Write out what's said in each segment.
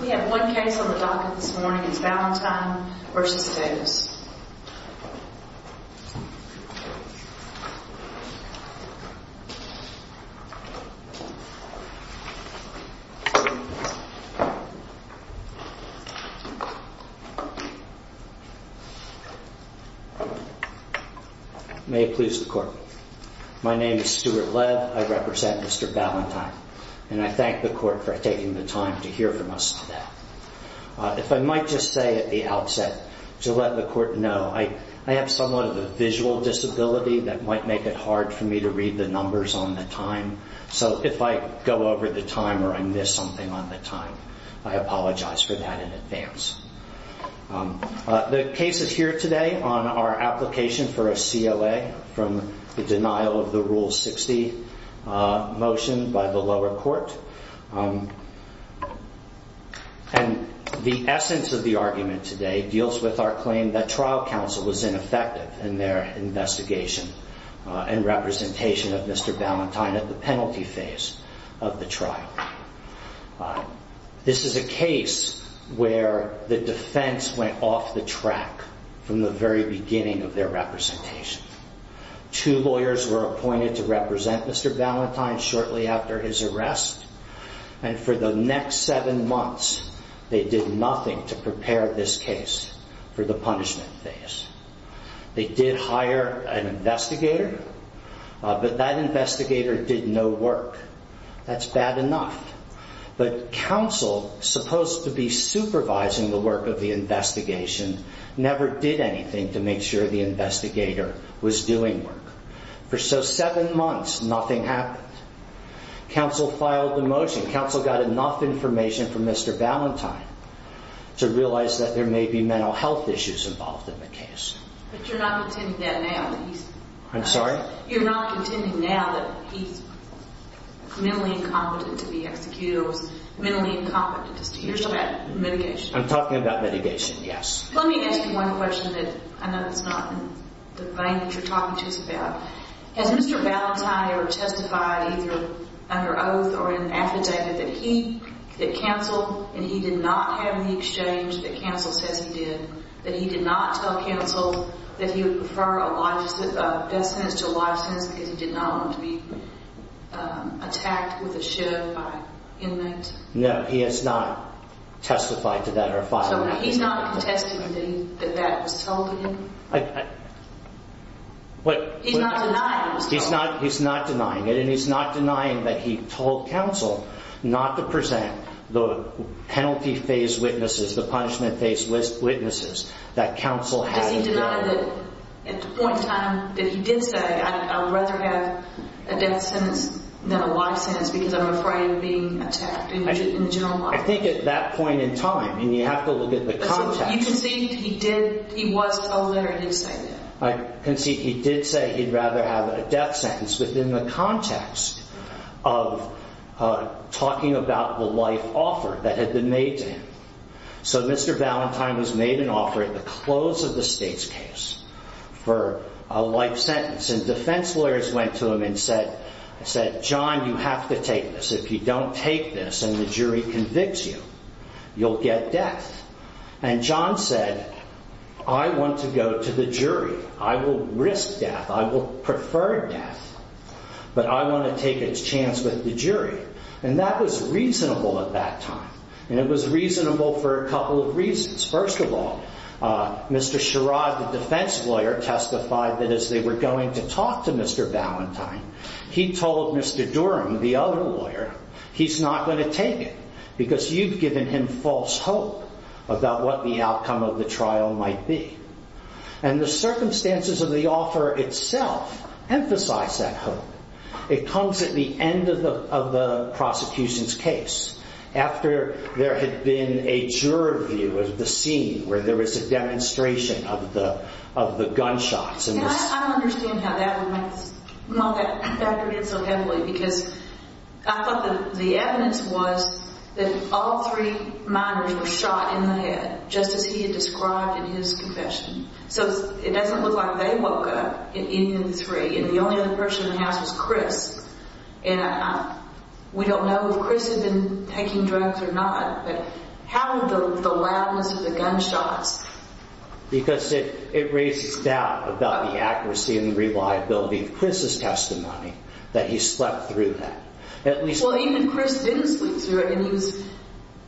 We have one case on the docket this morning. It's Balentine v. Davis. May it please the Court. My name is Stuart Lev. I represent Mr. Balentine and I thank the Court for taking the time to hear from us today. If I might just say at the outset to let the Court know, I have somewhat of a visual disability that might make it hard for me to read the numbers on the time. So if I go over the time or I miss something on the time, I apologize for that in advance. The case is here today on our application for a CLA from the denial of the Rule 60 motion by the lower court. The essence of the argument today deals with our claim that trial counsel was ineffective in their investigation and representation of Mr. Balentine at the penalty phase of the trial. This is a case where the defense went off the track from the very beginning of their representation. Two lawyers were appointed to represent Mr. Balentine shortly after his arrest and for the next seven months they did nothing to prepare this case for the punishment phase. They did hire an investigator, but that investigator did no work. That's bad enough. But counsel, supposed to be supervising the work of the investigation, never did anything to make sure the investigator was doing work. For so seven months, nothing happened. Counsel filed the motion. Counsel got enough information from Mr. Balentine to realize that there may be mental health issues involved in the case. But you're not contending that now? I'm sorry? You're not contending now that he's mentally incompetent to be executed or mentally incompetent to hear about mitigation? I'm talking about mitigation, yes. Let me ask you one question that I know is not in the vein that you're talking to us about. Has Mr. Balentine ever testified either under oath or in an affidavit that he, that counsel, and he did not have any exchange that counsel says he did, that he did not tell counsel that he would prefer a death sentence to a life sentence because he did not want to be attacked with a shove by inmates? No, he has not testified to that or filed it. He's not contesting that that was told to him? He's not denying it and he's not denying that he told counsel not to present the penalty phase witnesses, the punishment phase witnesses that counsel hadn't done. Does he deny that at the point in time that he did say I would rather have a death sentence than a life sentence because I'm afraid of being attacked in general? I think at that point in time and you have to look at the context. You concede he did, he was told that or he did say that? I concede he did say he'd rather have a death sentence within the context of talking about the life offer that had been made to him. So Mr. Valentine was made an offer at the close of the state's case for a life sentence and defense lawyers went to him and said, I said, John, you have to take this. If you don't take this and the jury convicts you, you'll get death. And John said, I want to go to the jury. I will risk death. I will prefer death, but I want to take a chance with the jury. And that was reasonable at that time. And it was reasonable for a couple of reasons. First of all, Mr. Sherrod, the defense lawyer testified that as they were going to talk to Mr. Valentine, he told Mr. Durham, the other lawyer, he's not going to take it because you've given him false hope about what the outcome of emphasized that hope. It comes at the end of the prosecution's case after there had been a juror view of the scene where there was a demonstration of the gunshots. And I understand how that would make that factor in so heavily because I thought the evidence was that all three minors were shot in the head, just as he had described in his confession. So it doesn't look like they woke up in any of the three. And the only other person in the house was Chris. And we don't know if Chris had been taking drugs or not, but how did the loudness of the gunshots? Because it raises doubt about the accuracy and reliability of Chris's testimony that he slept through that. Well, even Chris didn't sleep through it and he was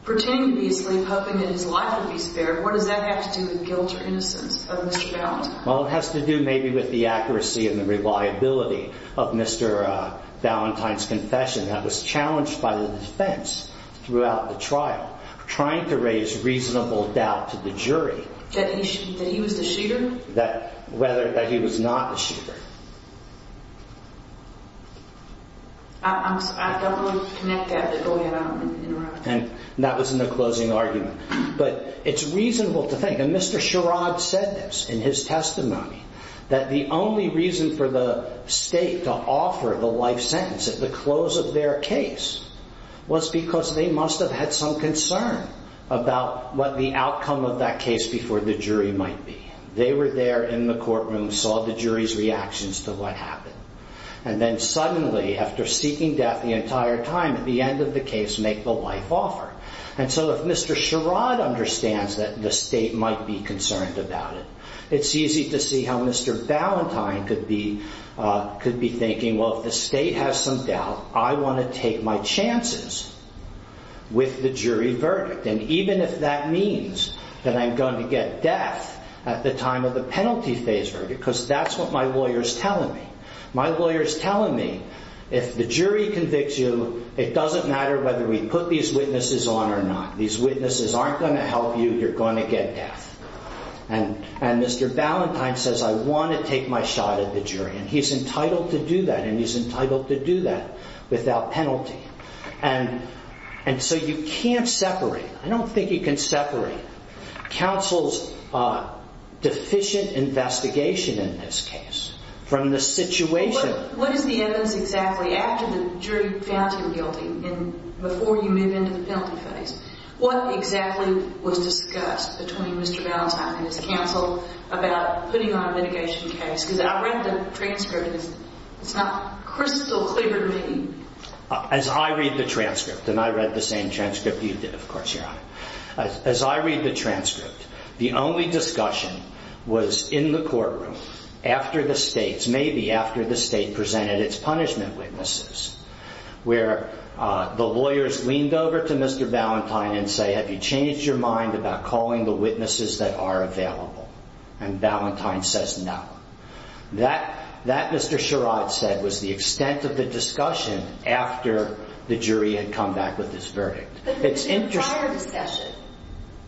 pretending to be asleep, hoping that his life would be spared. What does that have to do with guilt or innocence of Mr. Ballantyne? Well, it has to do maybe with the accuracy and the reliability of Mr. Ballantyne's confession that was challenged by the defense throughout the trial, trying to raise reasonable doubt to the jury. That he was the shooter? That whether he was not a shooter. I don't want to connect that, but go ahead, I don't want to interrupt. And that was in the closing argument. But it's reasonable to think, and Mr. Sherrod said this in his testimony, that the only reason for the state to offer the life sentence at the close of their case was because they must have had some concern about what the outcome of that case before the jury might be. They were there in the courtroom, saw the jury's reactions to what happened. And then suddenly, after seeking death the entire time, at the end of the case, make the life offer. And so if Mr. Sherrod understands that the state might be concerned about it, it's easy to see how Mr. Ballantyne could be thinking, well, if the state has some doubt, I want to take my chances with the jury verdict. And even if that means that I'm going to get death at the time of the penalty phase verdict, because that's what my lawyer's telling me. My lawyer's telling me, if the jury convicts you, it doesn't matter whether we put these witnesses on or not. These witnesses aren't going to help you, you're going to get death. And Mr. Ballantyne says, I want to take my shot at the jury. And he's entitled to do that, and he's entitled to do that without penalty. And so you can't separate, I don't from the situation. What is the evidence exactly, after the jury found him guilty, and before you move into the penalty phase, what exactly was discussed between Mr. Ballantyne and his counsel about putting on a litigation case? Because I read the transcript, and it's not crystal clear to me. As I read the transcript, and I read the same transcript you did, of course, Your Honor. As I read the transcript, the only discussion was in the courtroom after the states, maybe after the state presented its punishment witnesses, where the lawyers leaned over to Mr. Ballantyne and say, have you changed your mind about calling the witnesses that are available? And Ballantyne says no. That Mr. Sherrod said was the extent of the discussion after the jury had come back with this verdict. But there was a prior discussion,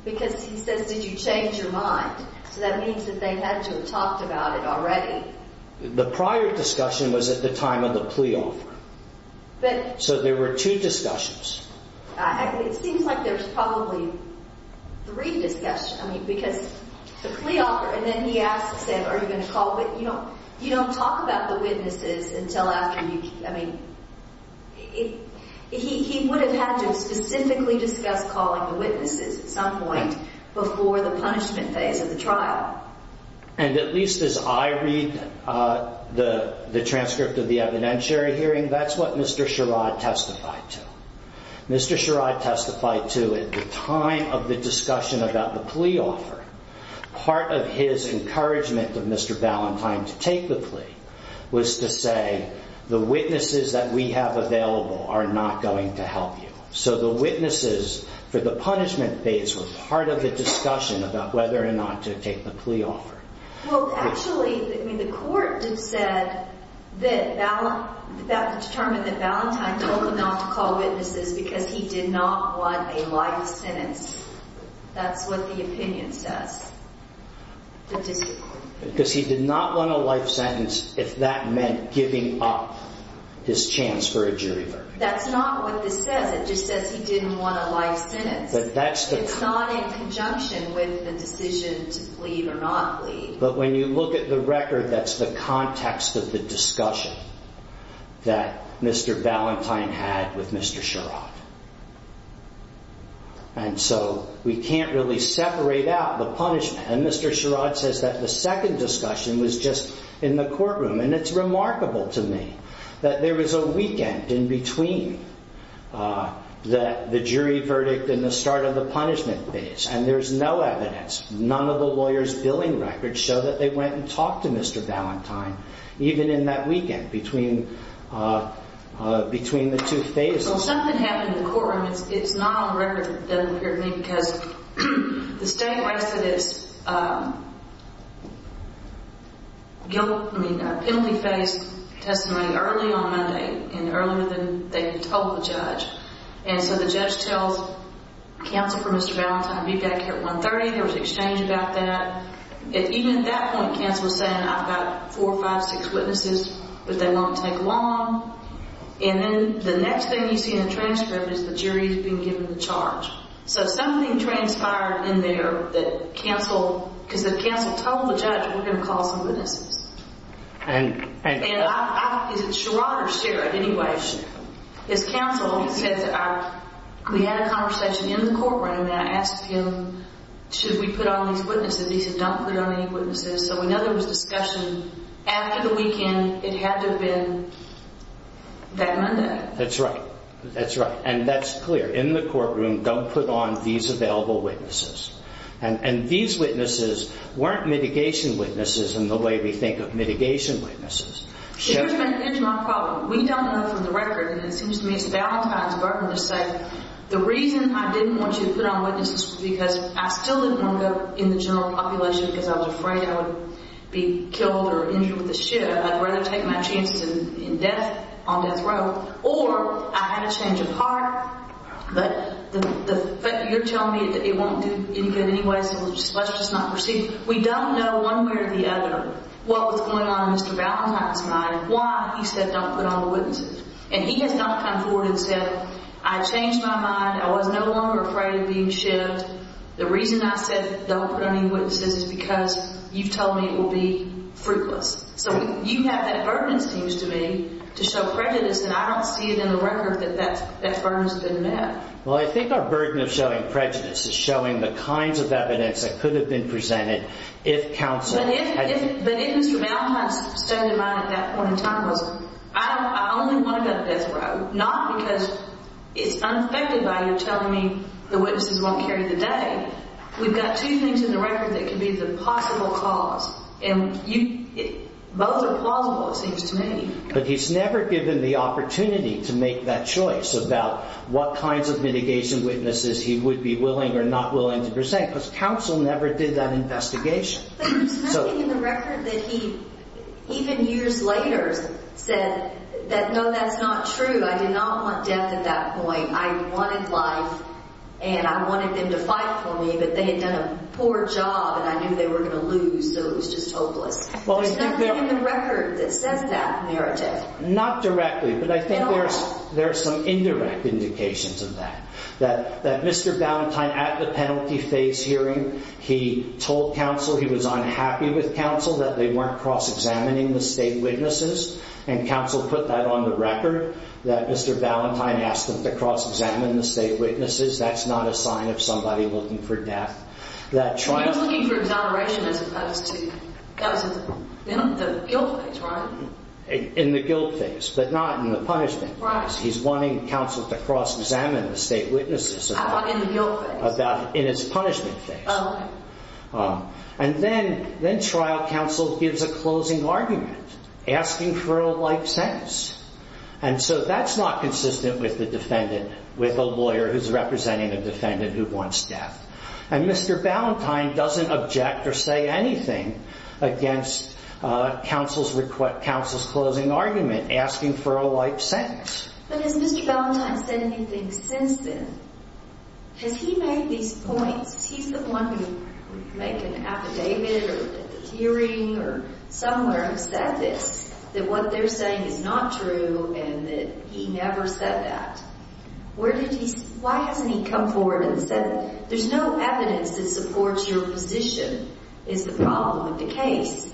because he says, did you change your mind? So that means that they had to have talked about it already. The prior discussion was at the time of the plea offer. So there were two discussions. It seems like there's probably three discussions, I mean, because the plea offer, and then he asks him, are you going to call, but you don't talk about the witnesses until after you, I mean, he would have had to specifically discuss calling the witnesses at some point before the punishment phase of the trial. And at least as I read the transcript of the evidentiary hearing, that's what Mr. Sherrod testified to. Mr. Sherrod testified to at the time of the discussion about the plea offer, part of his encouragement of Mr. Ballantyne to take the plea was to say the witnesses that we have available are not going to help you. So the witnesses for the punishment phase was part of the discussion about whether or not to take the plea offer. Well, actually, I mean, the court did said that determined that Ballantyne told him not to call witnesses because he did not want a life sentence. That's what the opinion says. Because he did not want a life sentence if that meant giving up his chance for a jury verdict. That's not what this says. It just says he didn't want a life sentence. It's not in conjunction with the decision to plead or not plead. But when you look at the record, that's the context of the discussion that Mr. Ballantyne had with Mr. Sherrod. And so we can't really separate out the punishment. And Mr. Sherrod says that the second discussion was just in the courtroom. And it's remarkable to me that there was a weekend in between the jury verdict and the start of the punishment phase. And there's no evidence. None of the lawyers' billing records show that they went and talked to Mr. Ballantyne even in that weekend between the two phases. Well, something happened in the penalty phase testimony early on Monday and earlier than they had told the judge. And so the judge tells counsel for Mr. Ballantyne to be back here at 1.30. There was an exchange about that. Even at that point, counsel was saying, I've got four, five, six witnesses, but they won't take long. And then the next thing you see in the transcript is the jury's been given the charge. So something transpired in there that counsel, because the counsel told the judge, we're going to call some witnesses. And is it Sherrod or Sherrod anyways? His counsel said that we had a conversation in the courtroom and I asked him, should we put on these witnesses? And he said, don't put on any witnesses. So we know there was discussion after the weekend. It had to have been that Monday. That's right. That's right. And that's clear in the courtroom, don't put on these available witnesses. And these witnesses weren't mitigation witnesses in the way we think of mitigation witnesses. Here's my problem. We don't know from the record, and it seems to me, it's Ballantyne's burden to say, the reason I didn't want you to put on witnesses was because I still didn't want to go in the general population because I was afraid I would be killed or injured with a shiv. I'd rather take my chances in death on death row. Or I had a change of heart, but you're telling me it won't do any good anyway, so let's just not proceed. We don't know one way or the other what was going on in Mr. Ballantyne's mind, why he said don't put on the witnesses. And he has not come forward and said, I changed my mind. I was no longer afraid of being shivved. The reason I said don't put on any witnesses is because you've told me it will be fruitless. So you have that burden, it seems to me, to show prejudice, and I don't see it in the record that that burden's been met. Well, I think our burden of showing prejudice is showing the kinds of evidence that could have been presented if counsel had... But if Mr. Ballantyne's stand in mind at that point in time was, I only want to go to death row, not because it's unaffected by telling me the witnesses won't carry the day. We've got two things in the record that could be the possible cause, and both are plausible, it seems to me. But he's never given the opportunity to make that choice about what kinds of mitigation witnesses he would be willing or not willing to present, because counsel never did that investigation. But there's nothing in the record that he, even years later, said that, no, that's not true. I did not want death at that point. I wanted life, and I wanted them to fight for me, but they had done a poor job, and I knew they were going to lose, so it was just hopeless. There's nothing in the record that says that narrative. Not directly, but I think there's some indirect indications of that, that Mr. Ballantyne at the penalty phase hearing, he told counsel he was unhappy with counsel, that they weren't cross-examining the state witnesses, and counsel put that on the record, that Mr. Ballantyne asked counsel to cross-examine the state witnesses. That's not a sign of somebody looking for death. He was looking for exoneration as opposed to, that was in the guilt phase, right? In the guilt phase, but not in the punishment phase. He's wanting counsel to cross-examine the state witnesses. How about in the guilt phase? In his punishment phase. And then trial counsel gives a closing argument, asking for a life sentence. And so that's not consistent with the defendant, with a lawyer who's representing a defendant who wants death. And Mr. Ballantyne doesn't object or say anything against counsel's closing argument, asking for a life sentence. But has Mr. Ballantyne said anything since then? Has he made these points? He's the one who would make an affidavit, or at the hearing, or somewhere have said this, that what they're saying is not true, and that he never said that. Where did he, why hasn't he come forward and said, there's no evidence that supports your position, is the problem with the case.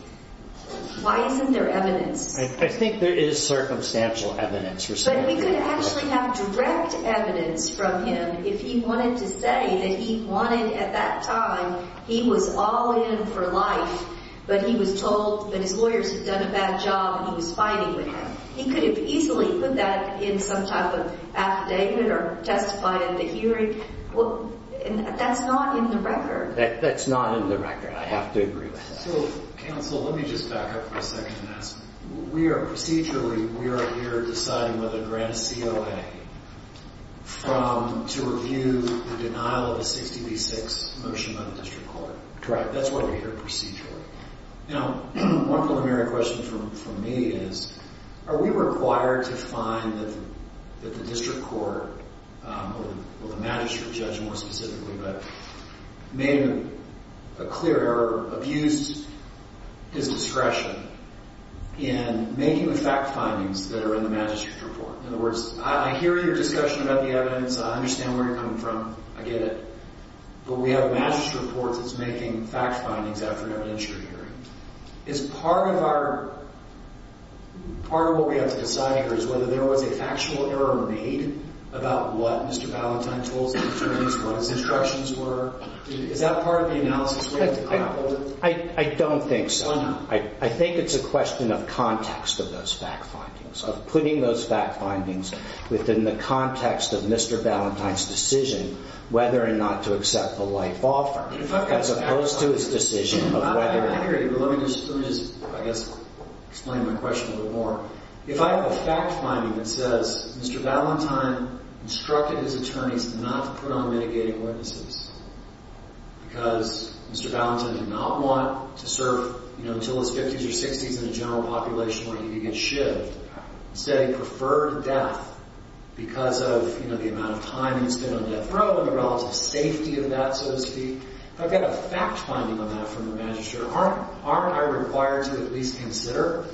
Why isn't there evidence? I think there is circumstantial evidence. But we could actually have direct evidence from him if he wanted to say that he wanted, at that time, he was all in for life, but he was told, that his lawyers had done a bad job and he was fighting with them. He could have easily put that in some type of affidavit or testify at the hearing. That's not in the record. That's not in the record. I have to agree with that. So counsel, let me just back up for a second and ask, we are procedurally, we are here deciding whether to grant a COA from, to review the denial of a 60 v. 6 motion by the district court. Correct. That's why we're here procedurally. Now, one preliminary question for me is, are we required to find that the district court, or the magistrate judge more specifically, but made a clear error, abused his discretion in making the fact findings that are in the magistrate report. In other words, I hear your discussion about the evidence, I understand where you're coming from, I get it, but we have a magistrate report that's making fact findings after an industry hearing. Is part of our, part of what we have to decide here is whether there was a factual error made about what Mr. Ballantyne told us, what his instructions were? Is that part of the analysis? I don't think so. I think it's a question of context of those fact findings, of putting those fact findings within the context of Mr. Ballantyne's decision whether or not to accept the life offer, as opposed to his decision of whether or not. Let me just, let me just, I guess, explain my question a little more. If I have a fact finding that says Mr. Ballantyne instructed his attorneys not to put on mitigating witnesses because Mr. Ballantyne did not want to serve, you know, until his fifties or sixties in a general population where he could get shivved, said he preferred death because of, you know, the amount of time he spent on death row, and the relative safety of that, so to speak. If I've got a fact finding on that from the magistrate, aren't, aren't I required to at least consider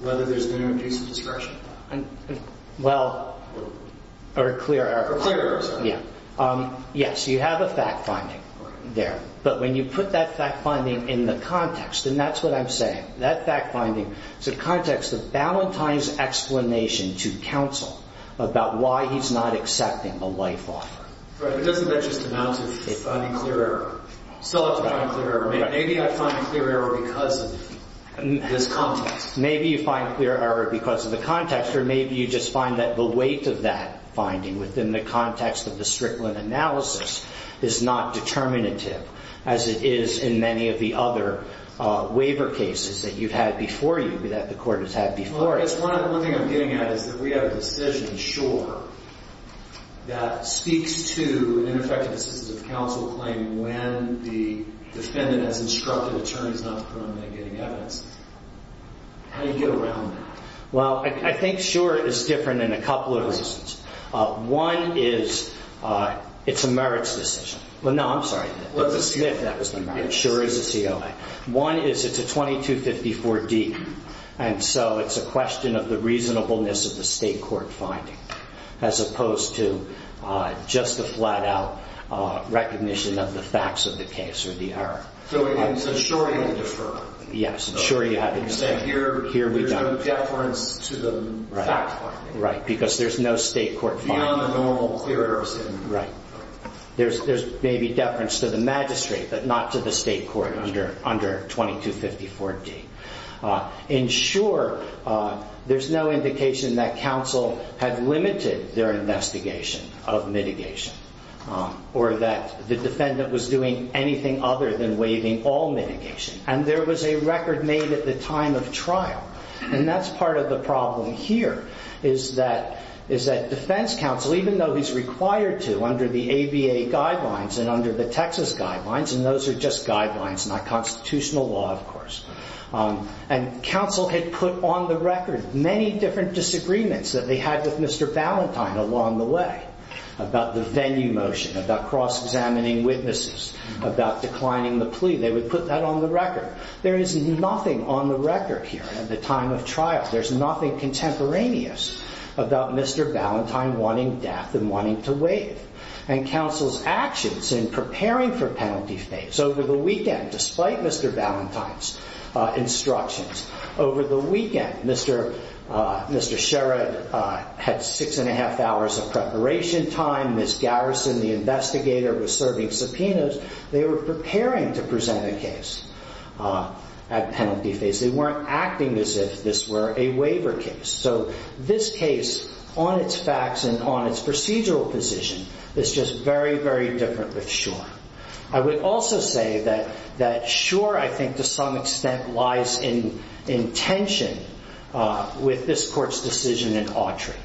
whether there's been an abuse of discretion? Well, a clear error. A clear error, sorry. Yeah. Yes, you have a fact finding there, but when you put that fact finding in the context, and that's what I'm saying, that fact finding is a context of Ballantyne's explanation to counsel about why he's not accepting the life offer. Right, but doesn't that just announce that he's finding clear error? So it's finding clear error. Maybe I find clear error because of this context. Maybe you find clear error because of the context, or maybe you just find that the weight of that finding within the context of the Strickland analysis is not determinative as it is in many of the other waiver cases that you've had before you, that the court has had before you. Well, I guess one, one thing I'm getting at is that we have a decision, sure, that speaks to an ineffective assistance of counsel claim when the defendant has instructed attorneys not to put them in getting evidence. How do you get around that? Well, I think sure is different in a couple of reasons. One is it's a merits decision. Well, no, I'm sorry. It sure is a COA. One is it's a 2254D, and so it's a question of the reasonableness of the state court finding as opposed to just a flat out recognition of the facts of the case or the error. So it's assuring a deferral. Yes, sure. You have it here. Here we go. Right. Because there's no state court. Right. There's, there's maybe deference to the magistrate, but not to the state court under, under 2254D. In short, there's no indication that counsel had limited their investigation of mitigation or that the defendant was doing anything other than waiving all mitigation. And there was a record made at the time of trial. And that's part of the problem here, is that, is that defense counsel, even though he's required to under the ABA guidelines and under the Texas guidelines, and those are just guidelines, not constitutional law, of course. And counsel had put on the record many different disagreements that they had with Mr. Valentine along the way about the venue motion, about cross-examining witnesses, about declining the record. There is nothing on the record here at the time of trial. There's nothing contemporaneous about Mr. Valentine wanting death and wanting to waive. And counsel's actions in preparing for penalty phase over the weekend, despite Mr. Valentine's instructions over the weekend, Mr. Mr. Sherrod had six and a half hours of preparation time. Ms. Garrison, the investigator was serving subpoenas. They were preparing to present a case at penalty phase. They weren't acting as if this were a waiver case. So this case, on its facts and on its procedural position, is just very, very different with Schor. I would also say that Schor, I think, to some extent, lies in tension with this court's decision in Autry.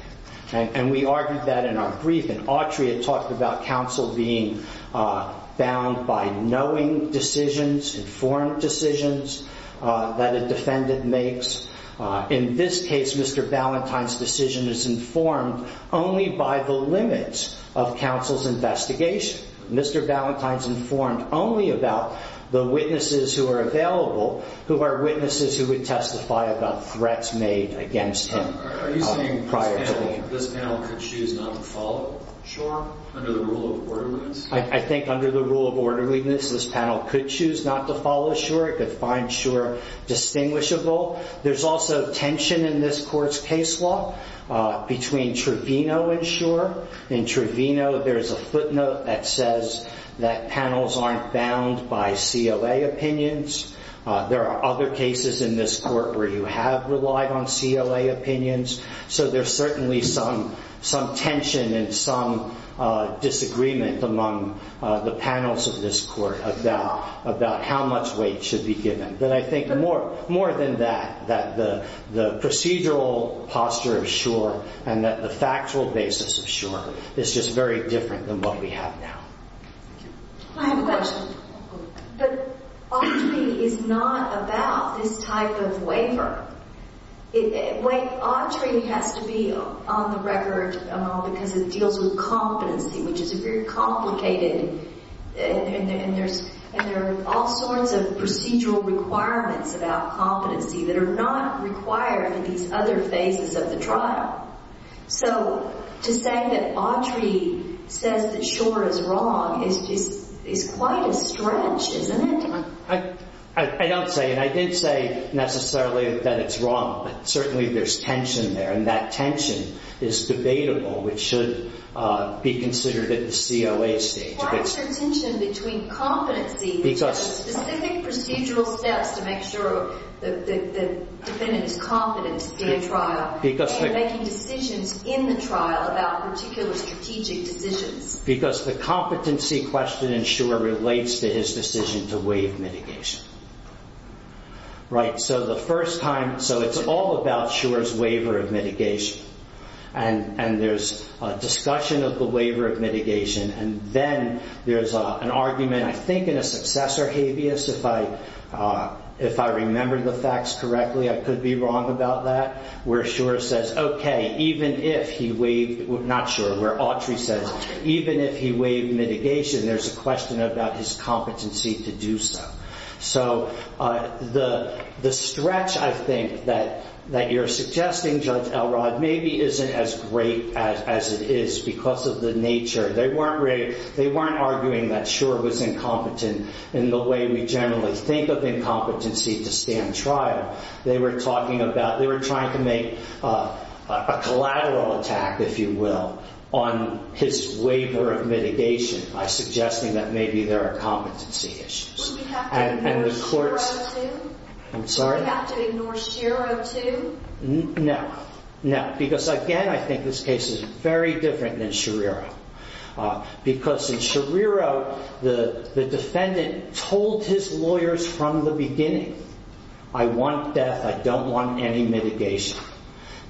And we argued that in our brief, in Autry, it talked about counsel being bound by knowing decisions, informed decisions that a defendant makes. In this case, Mr. Valentine's decision is informed only by the limits of counsel's investigation. Mr. Valentine's informed only about the witnesses who are available, who are witnesses who would testify about threats made against him prior to the hearing. This panel could choose not to follow Schor under the rule of orderliness? I think under the rule of orderliness, this panel could choose not to follow Schor. It could find Schor distinguishable. There's also tension in this court's case law between Trevino and Schor. In Trevino, there is a footnote that says that panels aren't bound by CLA opinions. There are other cases in this court where you have relied on CLA opinions. So there's certainly some tension and some disagreement among the panels of this court about how much weight should be given. But I think more than that, that the procedural posture of Schor and that the factual basis of Schor is just very different than what we have now. I have a question. But Autry is not about this type of waiver. Wait, Autry has to be on the record, Amal, because it deals with competency, which is a very complicated, and there are all sorts of procedural requirements about competency that are not required in these other phases of the trial. So to say that Autry says that Schor is wrong is quite a stretch, isn't it? I don't say it. I didn't say necessarily that it's wrong, but certainly there's tension there. And that tension is debatable, which should be considered at the COA stage. Why is there tension between competency and specific procedural steps to make sure that the defendant is competent to be in trial and making decisions in the trial about particular strategic decisions? Because the competency question in Schor relates to his decision to waive mitigation. So it's all about Schor's waiver of mitigation. And there's a discussion of the waiver of mitigation. And then there's an argument, I think in a successor habeas, if I remember the facts correctly, I could be wrong about that, where Schor says, okay, even if he waived, not Schor, where Autry says, even if he waived mitigation, there's a question about his competency to do so. So the stretch, I think, that you're suggesting, Judge Elrod, maybe isn't as great as it is because of the nature. They weren't arguing that Schor was incompetent in the way we generally think of incompetency to stand trial. They were talking about, they were trying to make a collateral attack, if you will, on his waiver of mitigation by suggesting that maybe there are competency issues. And the court's... Would we have to ignore Schirro too? I'm sorry? Would we have to ignore Schirro too? No, no. Because again, I think this case is very different than Schirro. Because in Schirro, the defendant told his lawyers from the beginning, I want death. I don't want any mitigation.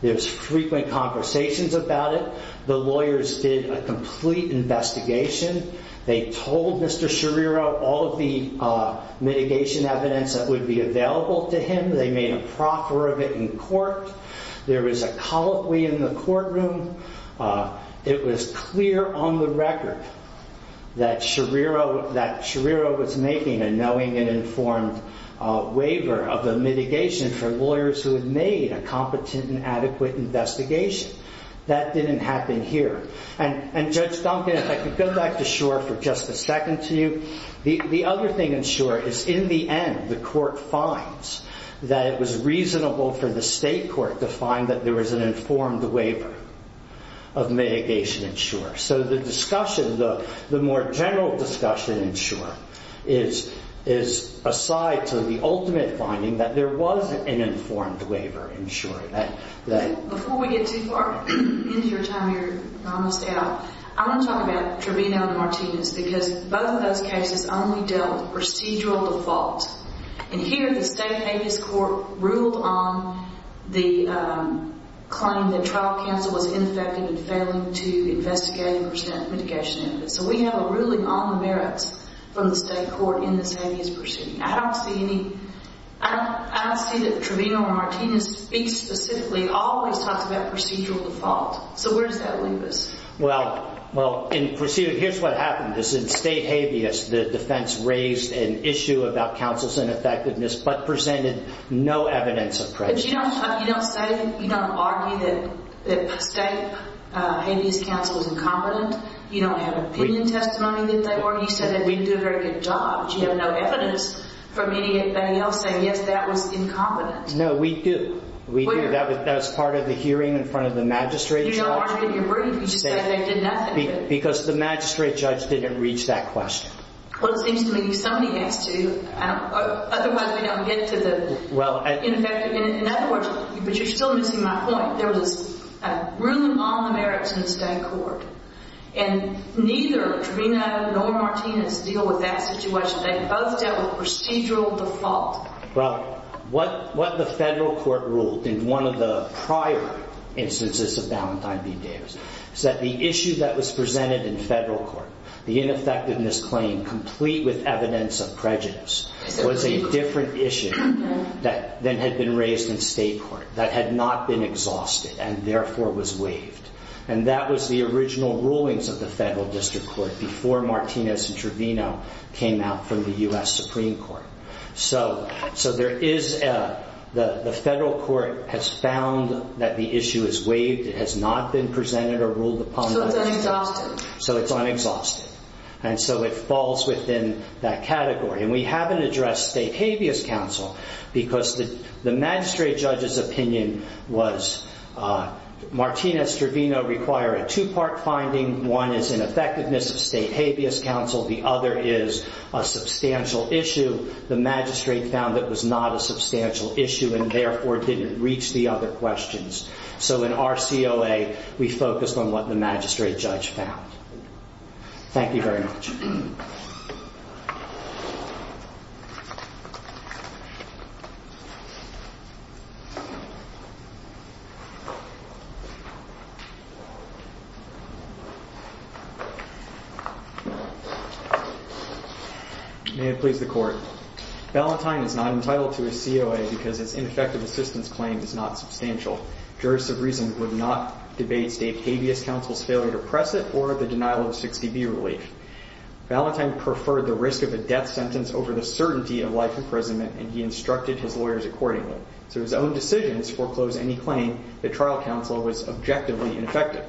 There's frequent conversations about it. The lawyers did a complete investigation. They told Mr. Schirro all of the mitigation evidence that would be available to him. They made a proffer of it in court. There was a colloquy in the courtroom. It was clear on the record that Schirro was making a knowing and informed waiver of the mitigation for lawyers who had made a competent and adequate investigation. That didn't happen here. And Judge Duncan, if I could go back to Schor for just a second to you. The other thing in Schor is in the end, the court finds that it was reasonable for the state court to find that there was an informed waiver of mitigation in Schor. So the discussion, the more general discussion in Schor is aside to the ultimate finding that there was an informed waiver in Schor. Before we get too far into your time here, I want to talk about Trevino and Martinez, because both of those cases only dealt procedural default. And here, the state claimed that trial counsel was ineffective in failing to investigate and present mitigation evidence. So we have a ruling on the merits from the state court in this habeas proceeding. I don't see any, I don't see that Trevino and Martinez speak specifically, always talks about procedural default. So where does that leave us? Well, in proceeding, here's what happened is in state habeas, the defense raised an issue about counsel's ineffectiveness, but presented no evidence of prejudice. You don't say, you don't argue that state habeas counsel's incompetent. You don't have opinion testimony that they were. You said that we do a very good job. You have no evidence from anybody else saying, yes, that was incompetent. No, we do. We do. That was part of the hearing in front of the magistrate. You don't argue your brief. You just say they did nothing good. Because the magistrate judge didn't reach that question. Well, it seems to me somebody has to. Otherwise, we don't get to the In other words, but you're still missing my point. There was a ruling on the merits in the state court and neither Trevino nor Martinez deal with that situation. They both dealt with procedural default. Robert, what the federal court ruled in one of the prior instances of Valentine v. Davis is that the issue that was presented in federal court, the ineffectiveness claim, complete with evidence of prejudice was a different issue that then had been raised in state court that had not been exhausted and therefore was waived. And that was the original rulings of the federal district court before Martinez and Trevino came out from the U.S. Supreme Court. So, so there is the federal court has found that the issue is waived. It has not been presented or ruled upon. So it's unexhausted. So it's unexhausted. And so it falls within that category. And we haven't addressed state habeas counsel because the magistrate judge's opinion was Martinez-Trevino require a two-part finding. One is ineffectiveness of state habeas counsel. The other is a substantial issue. The magistrate found that was not a substantial issue and therefore didn't reach the other questions. So in our COA, we focused on what the magistrate judge found. Thank you very much. May it please the court. Ballantyne is not entitled to a COA because it's ineffective assistance claim is not substantial. Juris of reason would not debate state habeas counsel's or the denial of 60B relief. Ballantyne preferred the risk of a death sentence over the certainty of life imprisonment. And he instructed his lawyers accordingly. So his own decisions foreclose any claim that trial counsel was objectively ineffective.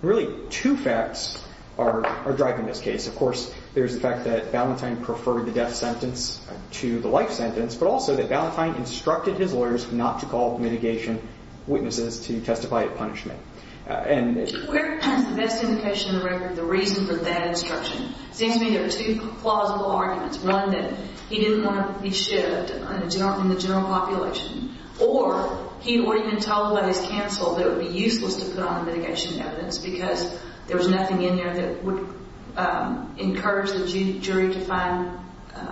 Really two facts are driving this case. Of course, there's the fact that Ballantyne preferred the death sentence to the life sentence, but also that Ballantyne instructed his lawyers not to call mitigation witnesses to testify at punishment. Where is the best indication in the record of the reason for that instruction? It seems to me there are two plausible arguments. One, that he didn't want to be shipped in the general population, or he would have been told by his counsel that it would be useless to put on the mitigation evidence because there was nothing in there that would encourage the jury to find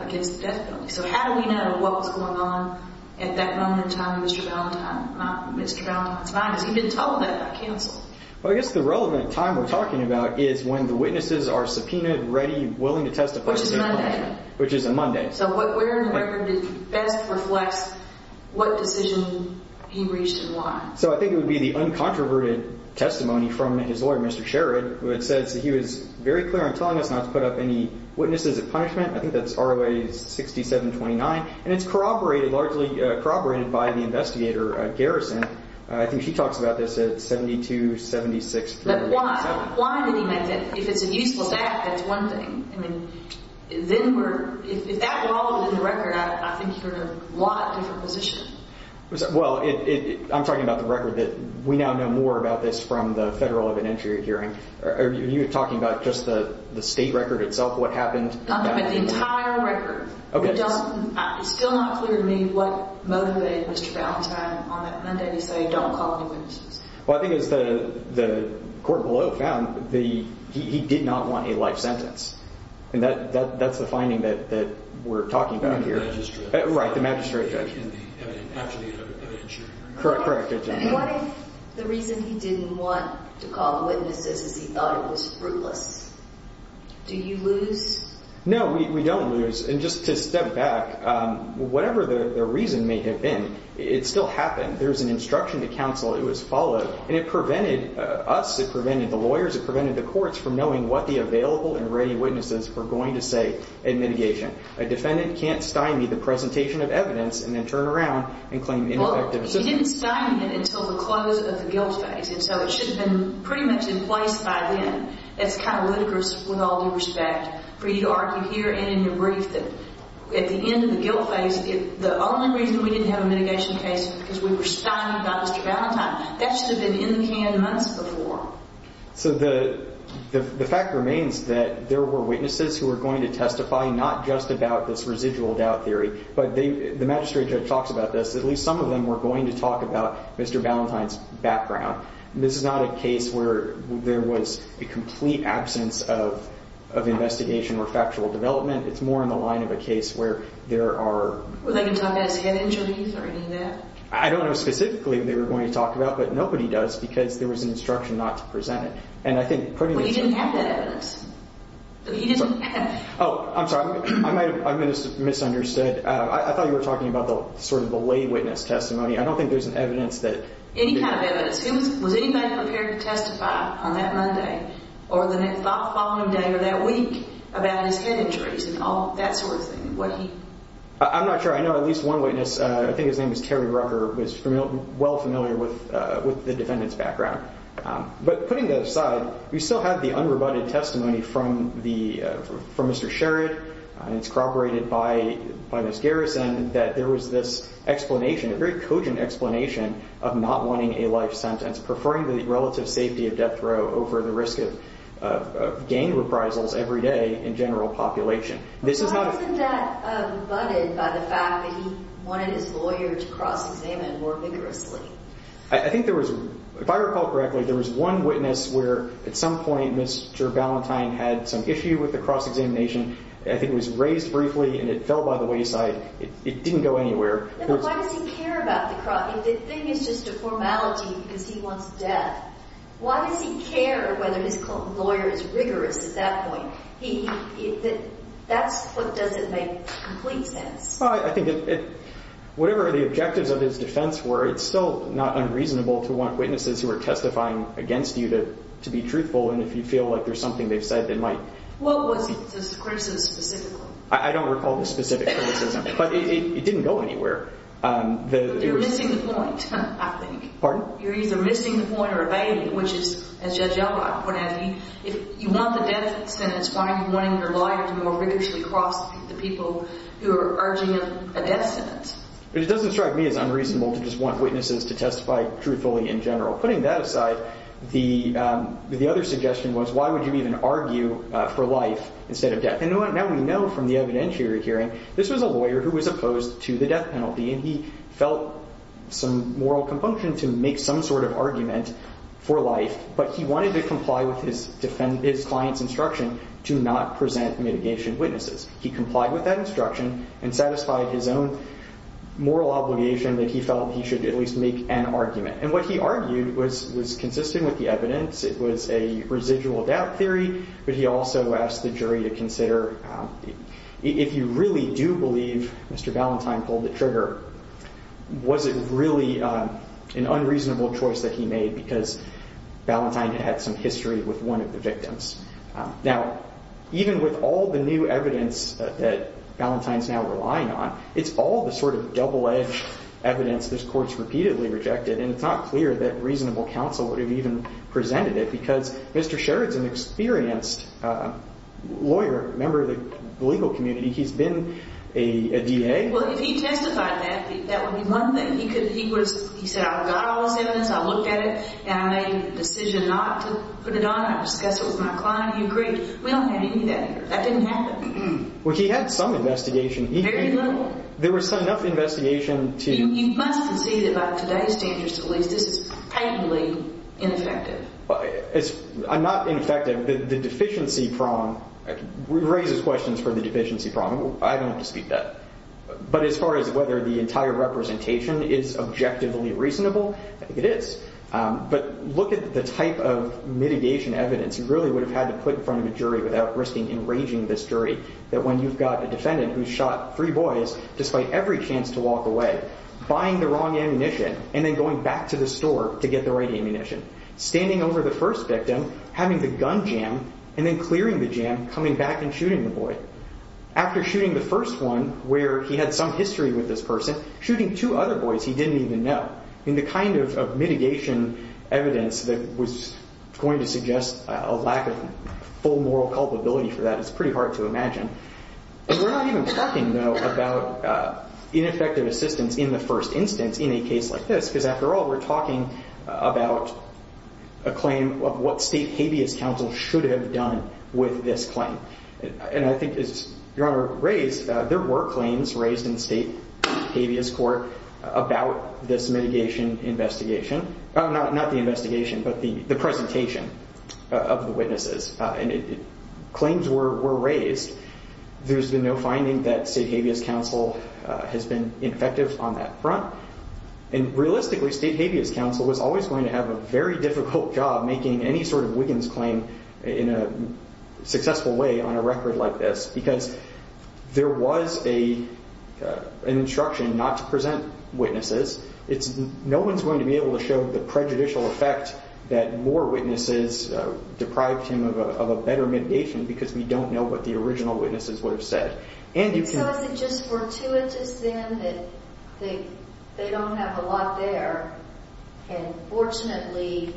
against the death penalty. So how do we know what was going on at that moment in time in Mr. Ballantyne's mind? Because he didn't tell him that by counsel. Well, I guess the relevant time we're talking about is when the witnesses are subpoenaed, ready, willing to testify. Which is Monday. Which is a Monday. So where in the record best reflects what decision he reached and why? So I think it would be the uncontroverted testimony from his lawyer, Mr. Sherrod, who had said that he was very clear on telling us not to ROA 6729. And it's corroborated, largely corroborated by the investigator, Garrison. I think she talks about this at 7276. But why? Why did he make that? If it's a useful fact, that's one thing. I mean, if that were all in the record, I think you're in a lot different position. Well, I'm talking about the record that we now know more about this from the federal event hearing. Are you talking about just the state record itself, what happened? I'm talking about the entire record. It's still not clear to me what motivated Mr. Ballantyne on that Monday to say don't call any witnesses. Well, I think it's the court below found he did not want a life sentence. And that's the finding that we're talking about here. The magistrate. Right, the magistrate judge. After the event hearing. Correct, correct. What if the reason he didn't want to call the witnesses is he thought it was fruitless? Do you lose? No, we don't lose. And just to step back, whatever the reason may have been, it still happened. There was an instruction to counsel. It was followed. And it prevented us. It prevented the lawyers. It prevented the courts from knowing what the available and ready witnesses were going to say in mitigation. A defendant can't stymie the presentation of evidence and then turn around and claim ineffective assistance. We didn't stymie it until the close of the guilt phase. And so it should have been pretty much in place by then. It's kind of ludicrous, with all due respect, for you to argue here and in your brief that at the end of the guilt phase, the only reason we didn't have a mitigation case because we were stymied by Mr. Ballantyne, that should have been in the can months before. So the fact remains that there were witnesses who were going to testify not just about this residual doubt theory, but the magistrate judge talks about this. At least some of them were going to talk about Mr. Ballantyne's background. This is not a case where there was a complete absence of investigation or factual development. It's more in the line of a case where there are Were they going to talk about his head injuries or any of that? I don't know specifically what they were going to talk about, but nobody does, because there was an instruction not to present it. And I think pretty much But he didn't have that evidence. He didn't have Oh, I'm sorry. I might have misunderstood. I thought you were talking about sort of the witness testimony. I don't think there's an evidence that Any kind of evidence. Was anybody prepared to testify on that Monday or the following day or that week about his head injuries and all that sort of thing? I'm not sure. I know at least one witness, I think his name is Terry Rucker, was well familiar with the defendant's background. But putting that aside, we still had the unrebutted testimony from Mr. Sherrod. It's corroborated by Ms. Garrison that there was this explanation, a very cogent explanation of not wanting a life sentence, preferring the relative safety of death row over the risk of gang reprisals every day in general population. This is not Why isn't that butted by the fact that he wanted his lawyer to cross-examine more vigorously? I think there was, if I recall correctly, there was one witness where at some point, Mr. Valentine had some issue with the cross-examination. I think it was raised briefly and it fell by the wayside. It didn't go anywhere. Why does he care about the cross-examination if the thing is just a formality because he wants death? Why does he care whether his lawyer is rigorous at that point? That's what doesn't make complete sense. Well, I think whatever the objectives of his defense were, it's still not unreasonable to want witnesses who are testifying against you to be truthful. And if you feel like there's something they've said that might What was his criticism specifically? I don't recall the specific criticism, but it didn't go anywhere. You're missing the point, I think. Pardon? You're either missing the point or abating it, which is, as Judge Elrod pointed out, if you want the death sentence, why are you wanting your lawyer to more rigorously cross the people who are urging a death sentence? It doesn't strike me as unreasonable to just want witnesses to testify truthfully in general. Putting that aside, the other suggestion was why would you even argue for life instead of death? Now we know from the evidentiary hearing, this was a lawyer who was opposed to the death penalty, and he felt some moral compunction to make some sort of argument for life. But he wanted to comply with his client's instruction to not present mitigation witnesses. He complied with that instruction and satisfied his own moral obligation that he felt he should at least make an argument. And what he argued was consistent with the evidence. It was a residual doubt theory, but he also asked the jury to consider, if you really do believe Mr. Ballantyne pulled the trigger, was it really an unreasonable choice that he made because Ballantyne had some history with one of the victims? Now, even with all the new evidence that Ballantyne's now relying on, it's all the sort of double-edged evidence this court's repeatedly rejected, and it's not clear that reasonable counsel would have even presented it, because Mr. Sheridan's an experienced lawyer, member of the legal community. He's been a DA. Well, if he testified that, that would be one thing. He said, I've got all this evidence. I looked at it, and I made the decision not to put it on. I discussed it with my client. He agreed. We don't have any of that here. That didn't happen. Well, he had some investigation. Very little. There was enough investigation to... You must concede that by today's standards of police, this is patently ineffective. I'm not ineffective. The deficiency prong raises questions for the deficiency prong. I don't have to speak to that. But as far as whether the entire representation is objectively reasonable, I think it is. But look at the type of mitigation evidence you really would have had to put in front of a jury without risking enraging this jury, that when you've got a defendant who shot three boys, despite every chance to walk away, buying the wrong ammunition, and then going back to the store to get the right ammunition. Standing over the first victim, having the gun jam, and then clearing the jam, coming back and shooting the boy. After shooting the first one, where he had some history with this person, shooting two other boys he didn't even know. The kind of mitigation evidence that was going to suggest a lack of full moral culpability for that is pretty hard to imagine. We're not even talking, though, about ineffective assistance in the first instance in a case like this. Because after all, we're talking about a claim of what state habeas counsel should have done with this claim. And I think as Your Honor raised, there were claims raised in state habeas court about this mitigation investigation. Not the investigation, but the presentation of the witnesses. And claims were raised. There's been no finding that state habeas counsel has been effective on that front. And realistically, state habeas counsel was always going to have a very difficult job making any sort of Wiggins claim in a successful way on a record like this. Because there was an instruction not to present witnesses. No one's going to be able to show the prejudicial effect that more witnesses deprived him of a better mitigation because we don't know what the original witnesses would have said. And you can... So is it just fortuitous, then, that they don't have a lot there? And fortunately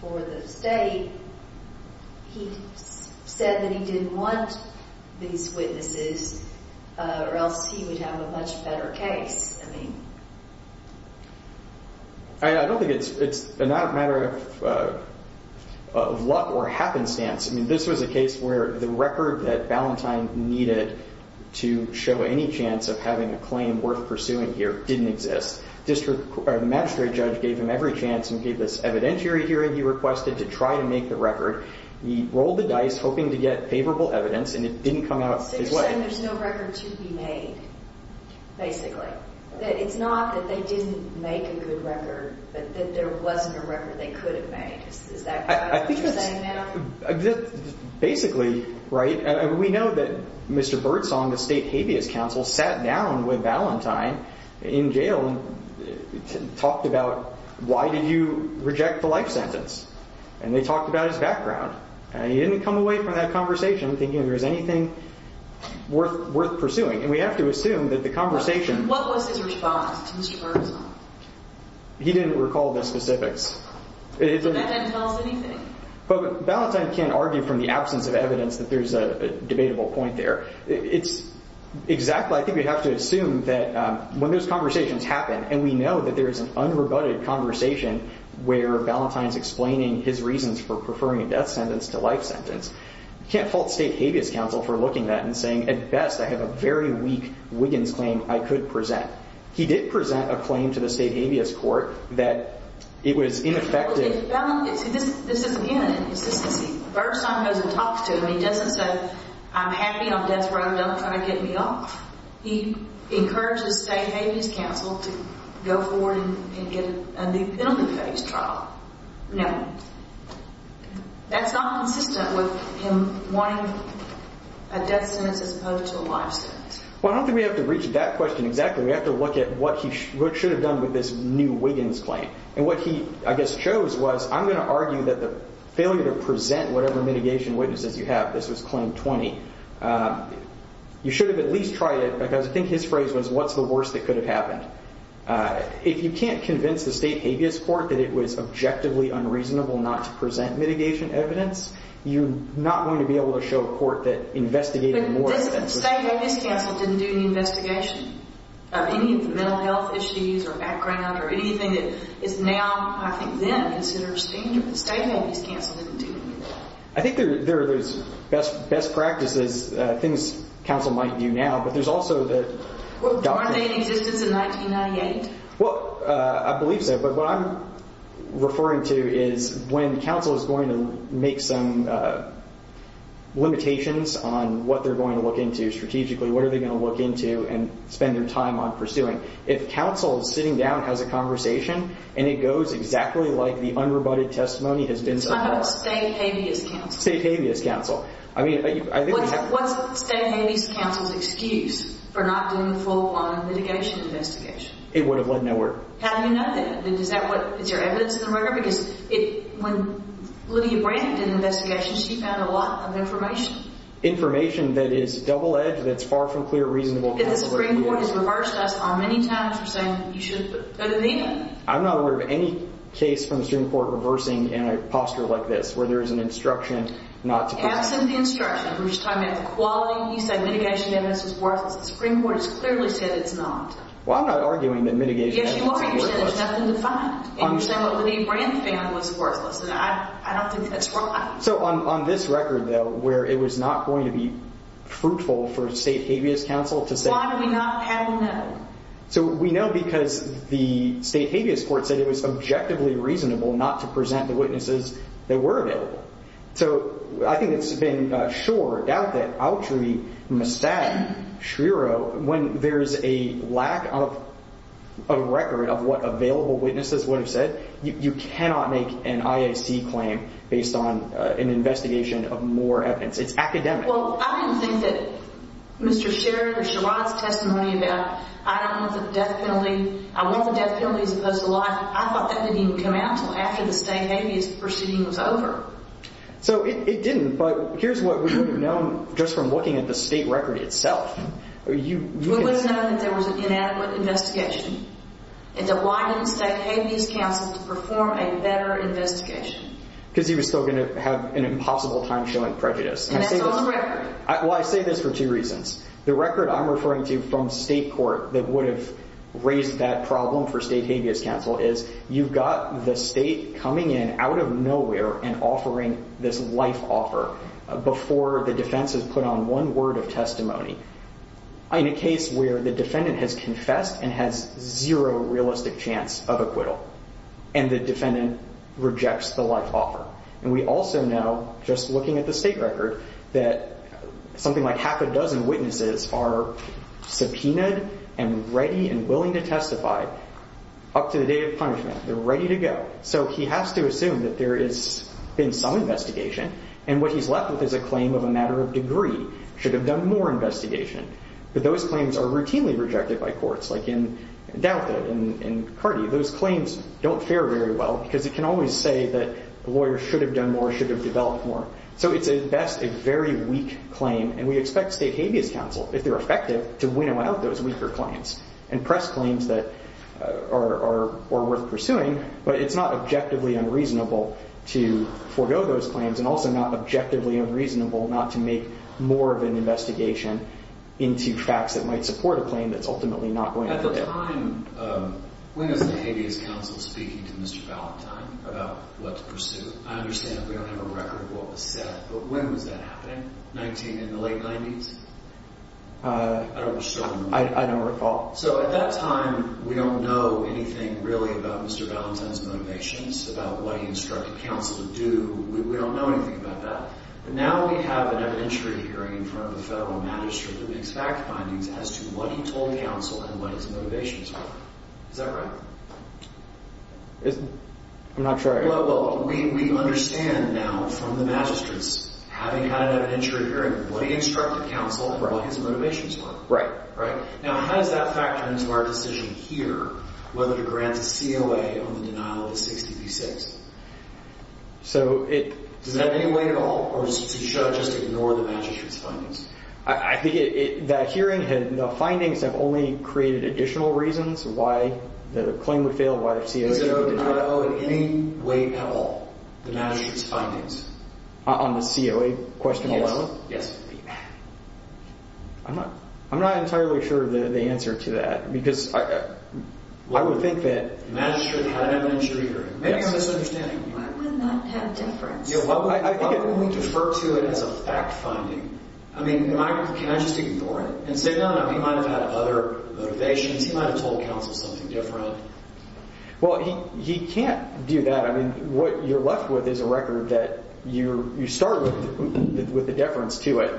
for the state, he said that he didn't want these witnesses or else he would have to go to court. I don't think it's a matter of luck or happenstance. I mean, this was a case where the record that Ballantyne needed to show any chance of having a claim worth pursuing here didn't exist. The magistrate judge gave him every chance and gave this evidentiary hearing. He requested to try to make the record. He rolled the dice, hoping to get favorable evidence, and it didn't come out his way. So you're saying there's no record to be made, basically. It's not that they didn't make a good record, but that there wasn't a record they could have made. Is that what you're saying now? Basically, right. We know that Mr. Bertsong, the state habeas counsel, sat down with Ballantyne in jail and talked about why did you reject the life sentence. And they talked about his background. He didn't come away from that conversation thinking there was anything worth pursuing. And we have to assume that the conversation... What was his response to Mr. Bertsong? He didn't recall the specifics. That doesn't tell us anything. But Ballantyne can't argue from the absence of evidence that there's a debatable point there. It's exactly... I think we have to assume that when those conversations happen, and we know that there is an unrebutted conversation where Ballantyne is explaining his reasons for preferring a sentence to life sentence, you can't fault state habeas counsel for looking at that and saying, at best, I have a very weak Wiggins claim I could present. He did present a claim to the state habeas court that it was ineffective. If Ballantyne... This isn't him. It's just that Bertsong doesn't talk to him. He doesn't say, I'm happy on death row. Don't try to get me off. He encourages state habeas counsel to go forward and get a new penalty phase trial. No. That's not consistent with him wanting a death sentence as opposed to a life sentence. Well, I don't think we have to reach that question exactly. We have to look at what he should have done with this new Wiggins claim. And what he, I guess, chose was, I'm going to argue that the failure to present whatever mitigation witnesses you have, this was claim 20, you should have at least tried it because I think his phrase was, what's the worst that could have happened? If you can't convince the state habeas court that it was objectively unreasonable not to present mitigation evidence, you're not going to be able to show a court that investigated more... I think there are those best practices, things counsel might do now, but there's also the... Well, I believe so. But what I'm referring to is when counsel is going to make some limitations on what they're going to look into strategically, what are they going to look into and spend their time on pursuing. If counsel is sitting down, has a conversation, and it goes exactly like the unrebutted testimony has been... State habeas counsel. I mean, I think... What's state habeas counsel's excuse for not doing the full on mitigation investigation? It would have led nowhere. How do you know that? Is that what... Is there evidence in the record? Because when Lydia Brandt did the investigation, she found a lot of information. Information that is double-edged, that's far from clear, reasonable... The Supreme Court has reversed us on many times for saying you should go to the end. I'm not aware of any case from the Supreme Court reversing in a posture like this, where there is an instruction not to... That's in the instruction. We're just talking about the quality. You said mitigation evidence is worthless. The Supreme Court has clearly said it's not. Well, I'm not arguing that mitigation evidence is worthless. Yes, you are. You're saying there's nothing to find. And you're saying what Lydia Brandt found was worthless, and I don't think that's right. So on this record, though, where it was not going to be fruitful for state habeas counsel to say... Why do we not have a note? So we know because the state habeas court said it was objectively reasonable not to present the witnesses that were available. So I think it's been sure doubt that Autry, Mastad, Schriero, when there's a lack of a record of what available witnesses would have said, you cannot make an IAC claim based on an investigation of more evidence. It's academic. Well, I didn't think that Mr. Sherrod's testimony about I don't want the death penalty, I want the death penalty as opposed to life, I thought that didn't even come out until after the state habeas proceeding was over. So it didn't. But here's what we would have known just from looking at the state record itself. We would have known that there was an inadequate investigation and that why didn't state habeas counsel perform a better investigation? Because he was still going to have an impossible time showing prejudice. And that's on record. Well, I say this for two reasons. The record I'm referring to from state court that would have raised that problem for state offering this life offer before the defense has put on one word of testimony in a case where the defendant has confessed and has zero realistic chance of acquittal and the defendant rejects the life offer. And we also know just looking at the state record that something like half a dozen witnesses are subpoenaed and ready and willing to testify up to the date of punishment. They're ready to go. So he has to assume that there has been some investigation. And what he's left with is a claim of a matter of degree, should have done more investigation. But those claims are routinely rejected by courts. Like in Dauta, in Cardi, those claims don't fare very well because it can always say that the lawyer should have done more, should have developed more. So it's at best a very weak claim. And we expect state habeas counsel, if they're effective, to winnow out those weaker claims and press claims that are worth pursuing. But it's not objectively unreasonable to forego those claims and also not objectively unreasonable not to make more of an investigation into facts that might support a claim that's ultimately not going to fail. At the time, when is the habeas counsel speaking to Mr. Valentine about what to pursue? I understand we don't have a record of what was said, but when was that happening? 19, in the late 90s? I don't recall. So at that time, we don't know anything really about Mr. Valentine's motivations, about what he instructed counsel to do. We don't know anything about that. But now we have an evidentiary hearing in front of the Federal Magistrate that makes fact findings as to what he told counsel and what his motivations were. Is that right? I'm not sure. Well, we understand now from the magistrates, having had an evidentiary hearing, what he instructed counsel and what his motivations were. Right. Right. Now, how does that factor into our decision here, whether to grant a COA on the denial of 60 v. 6? So it... Does that make weight at all? Or should I just ignore the magistrate's findings? I think that hearing had... The findings have only created additional reasons why the claim would fail, why the COA would be denied. Is there a denial in any weight at all, the magistrate's findings? On the COA question alone? Yes. I'm not entirely sure of the answer to that, because I would think that... The magistrate had an evidentiary hearing. Maybe I'm misunderstanding you. That would not have a difference. I think it... How can we defer to it as a fact finding? I mean, can I just ignore it and say, no, no, he might have had other motivations. He might have told counsel something different. Well, he can't do that. What you're left with is a record that you start with a deference to it.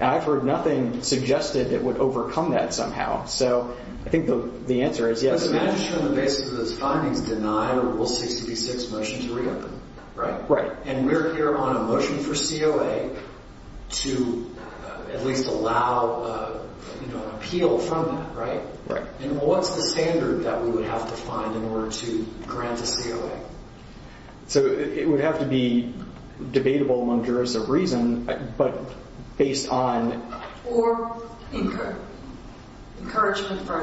And I've heard nothing suggested it would overcome that somehow. So I think the answer is yes. But the magistrate on the basis of those findings denied a rule 60 v. 6 motion to reopen, right? Right. And we're here on a motion for COA to at least allow an appeal from that, right? Right. And what's the standard that we would have to find in order to grant a COA? So it would have to be debatable among jurists of reason, but based on... Or encouragement by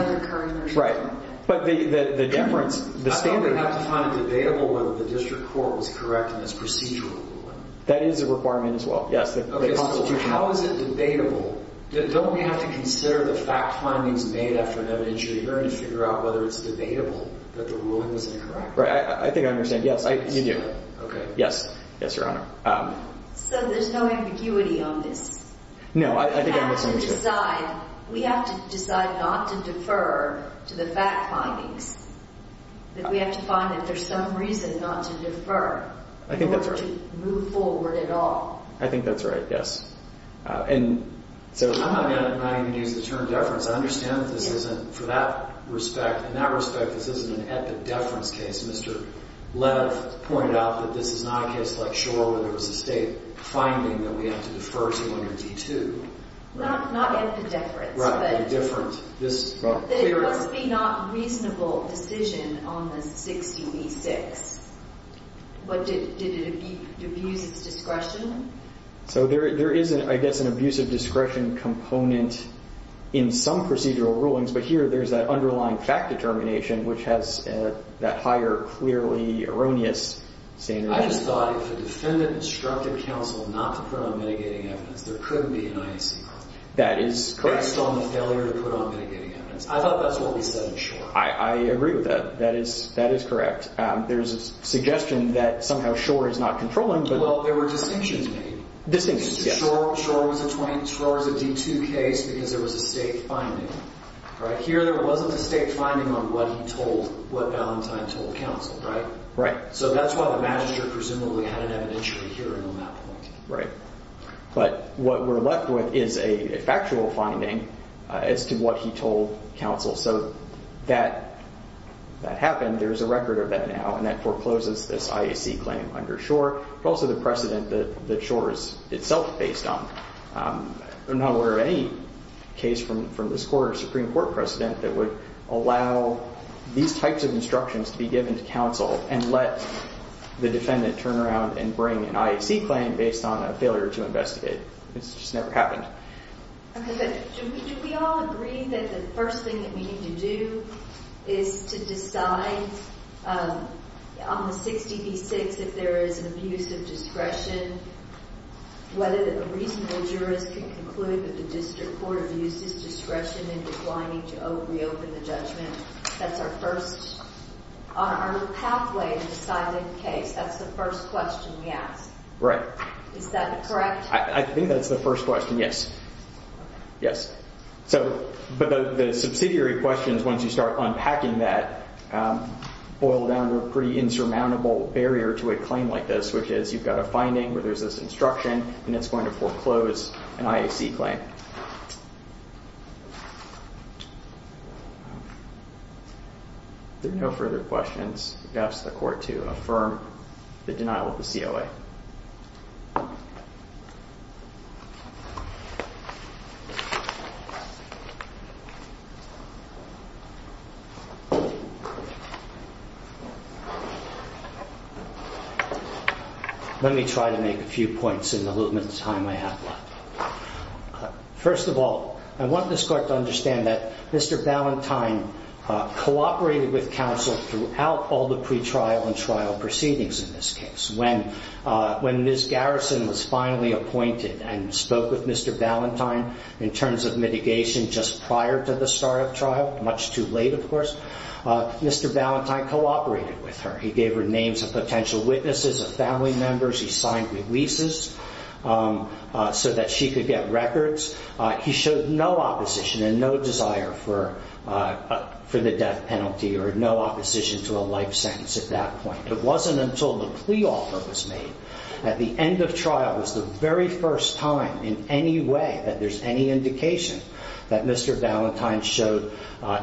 the current... Right. But the deference, the standard... I thought we'd have to find it debatable whether the district court was correct in this procedural ruling. That is a requirement as well. Yes, the constitutional... How is it debatable? Don't we have to consider the fact findings made after an evidentiary hearing to figure out whether it's debatable that the ruling was incorrect? Right. I think I understand. Yes, you do. Okay. Yes. Yes, Your Honor. So there's no ambiguity on this? No, I think I'm listening to you. We have to decide not to defer to the fact findings, that we have to find that there's some reason not to defer or to move forward at all. I think that's right. Yes. And so... I'm not going to use the term deference. I understand that this isn't, for that respect, in that respect, this isn't an epideference case. Mr. Lev pointed out that this is not a case like Shore where there was a state finding that we have to defer to under D2. Not epideference, but... Right, but a different... There must be not reasonable decision on this 60 v. 6. But did it abuse its discretion? So there is, I guess, an abuse of discretion component in some procedural rulings, but here there's that underlying fact determination, which has that higher, clearly erroneous standard. I just thought if the defendant instructed counsel not to put on mitigating evidence, there couldn't be an IAC problem. That is correct. Based on the failure to put on mitigating evidence. I thought that's what we said in Shore. I agree with that. That is correct. There's a suggestion that somehow Shore is not controlling, but... Well, there were distinctions made. Distinctions, yes. Shore was a D2 case because there was a state finding, right? Here there wasn't a state finding on what he told, what Valentine told counsel, right? Right. So that's why the Magistrate presumably had an evidentiary hearing on that point. Right. But what we're left with is a factual finding as to what he told counsel. So that happened. There's a record of that now, and that forecloses this IAC claim under Shore. But also the precedent that Shore is itself based on. I'm not aware of any case from this Court or Supreme Court precedent that would allow these types of instructions to be given to counsel and let the defendant turn around and bring an IAC claim based on a failure to investigate. It's just never happened. Okay. But do we all agree that the first thing that we need to do is to decide on the 60D6 if there is an abuse of discretion. Whether a reasonable jurist can conclude that the District Court abused his discretion in declining to reopen the judgment. That's our first, our pathway to deciding the case. That's the first question we ask. Right. Is that correct? I think that's the first question, yes. Yes. So, but the subsidiary questions, once you start unpacking that, boil down to a pretty insurmountable barrier to a claim like this, which is you've got a finding where there's this instruction, and it's going to foreclose an IAC claim. There are no further questions. I ask the Court to affirm the denial of the COA. Let me try to make a few points in the little bit of time I have left. First of all, I want this Court to understand that Mr. Ballantyne cooperated with counsel throughout all the pretrial and trial proceedings in this case. When Ms. Garrison was finally appointed and spoke with Mr. Ballantyne in terms of mitigation just prior to the start of trial, much too late, of course, Mr. Ballantyne cooperated with her. He gave her names of potential witnesses, of family members. He signed releases so that she could get records. He showed no opposition and no desire for the death penalty, or no opposition to a life sentence at that point. It wasn't until the plea offer was made at the end of trial, it was the very first time in any way that there's any indication that Mr. Ballantyne showed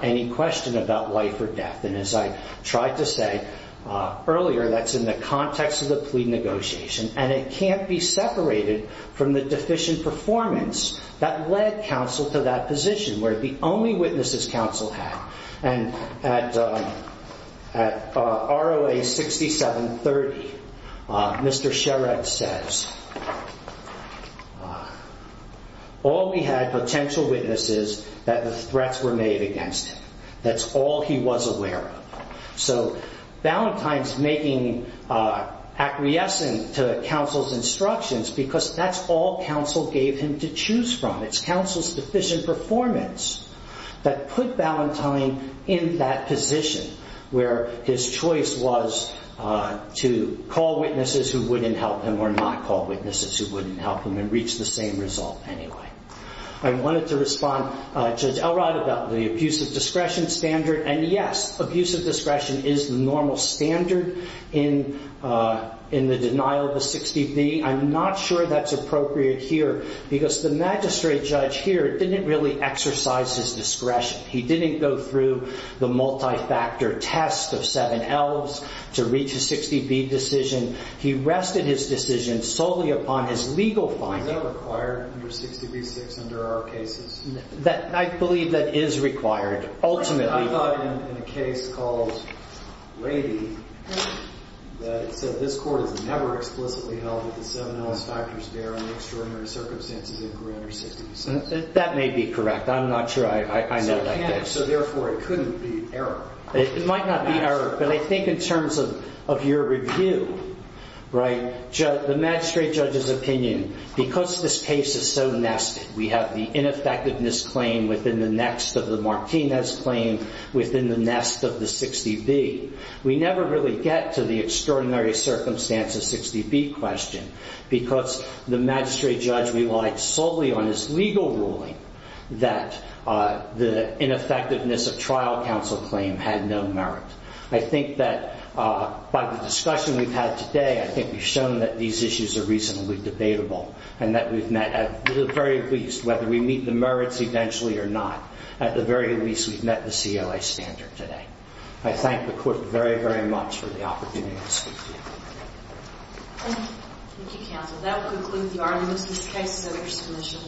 any question about life or death. And as I tried to say earlier, that's in the context of the plea negotiation. And it can't be separated from the deficient performance that led counsel to that position, where the only witnesses counsel had. And at ROA 6730, Mr. Sherrod says, all we had, potential witnesses, that the threats were made against him. That's all he was aware of. So Ballantyne's making acquiescent to counsel's instructions because that's all counsel gave him to choose from. It's counsel's deficient performance that put Ballantyne in that position, where his choice was to call witnesses who wouldn't help him, or not call witnesses who wouldn't help him, and reach the same result anyway. I wanted to respond, Judge Elrod, about the abusive discretion standard. And yes, abusive discretion is the normal standard in the denial of the 60B. I'm not sure that's appropriate here because the magistrate judge here didn't really exercise his discretion. He didn't go through the multi-factor test of seven L's to reach a 60B decision. He rested his decision solely upon his legal finding. Is that required under 60B-6 under our cases? I believe that is required, ultimately. I thought in a case called Lady, that it said, this court has never explicitly held that the seven L's factors bear on the extraordinary circumstances of Grander 60B. That may be correct. I'm not sure I know that. So therefore, it couldn't be error. It might not be error. But I think in terms of your review, the magistrate judge's opinion, because this case is so nested, we have the ineffectiveness claim within the next of the Martinez claim within the nest of the 60B. We never really get to the extraordinary circumstances 60B question because the magistrate judge relied solely on his legal ruling that the ineffectiveness of trial counsel claim had no merit. I think that by the discussion we've had today, I think we've shown that these issues are reasonably debatable and that we've met, at the very least, whether we meet the merits eventually or not, at the very least, we've met the COA standard today. I thank the court very, very much for the opportunity to speak to you. Counsel, that will conclude the arguments. This case is at your submission. Thank you. All rise.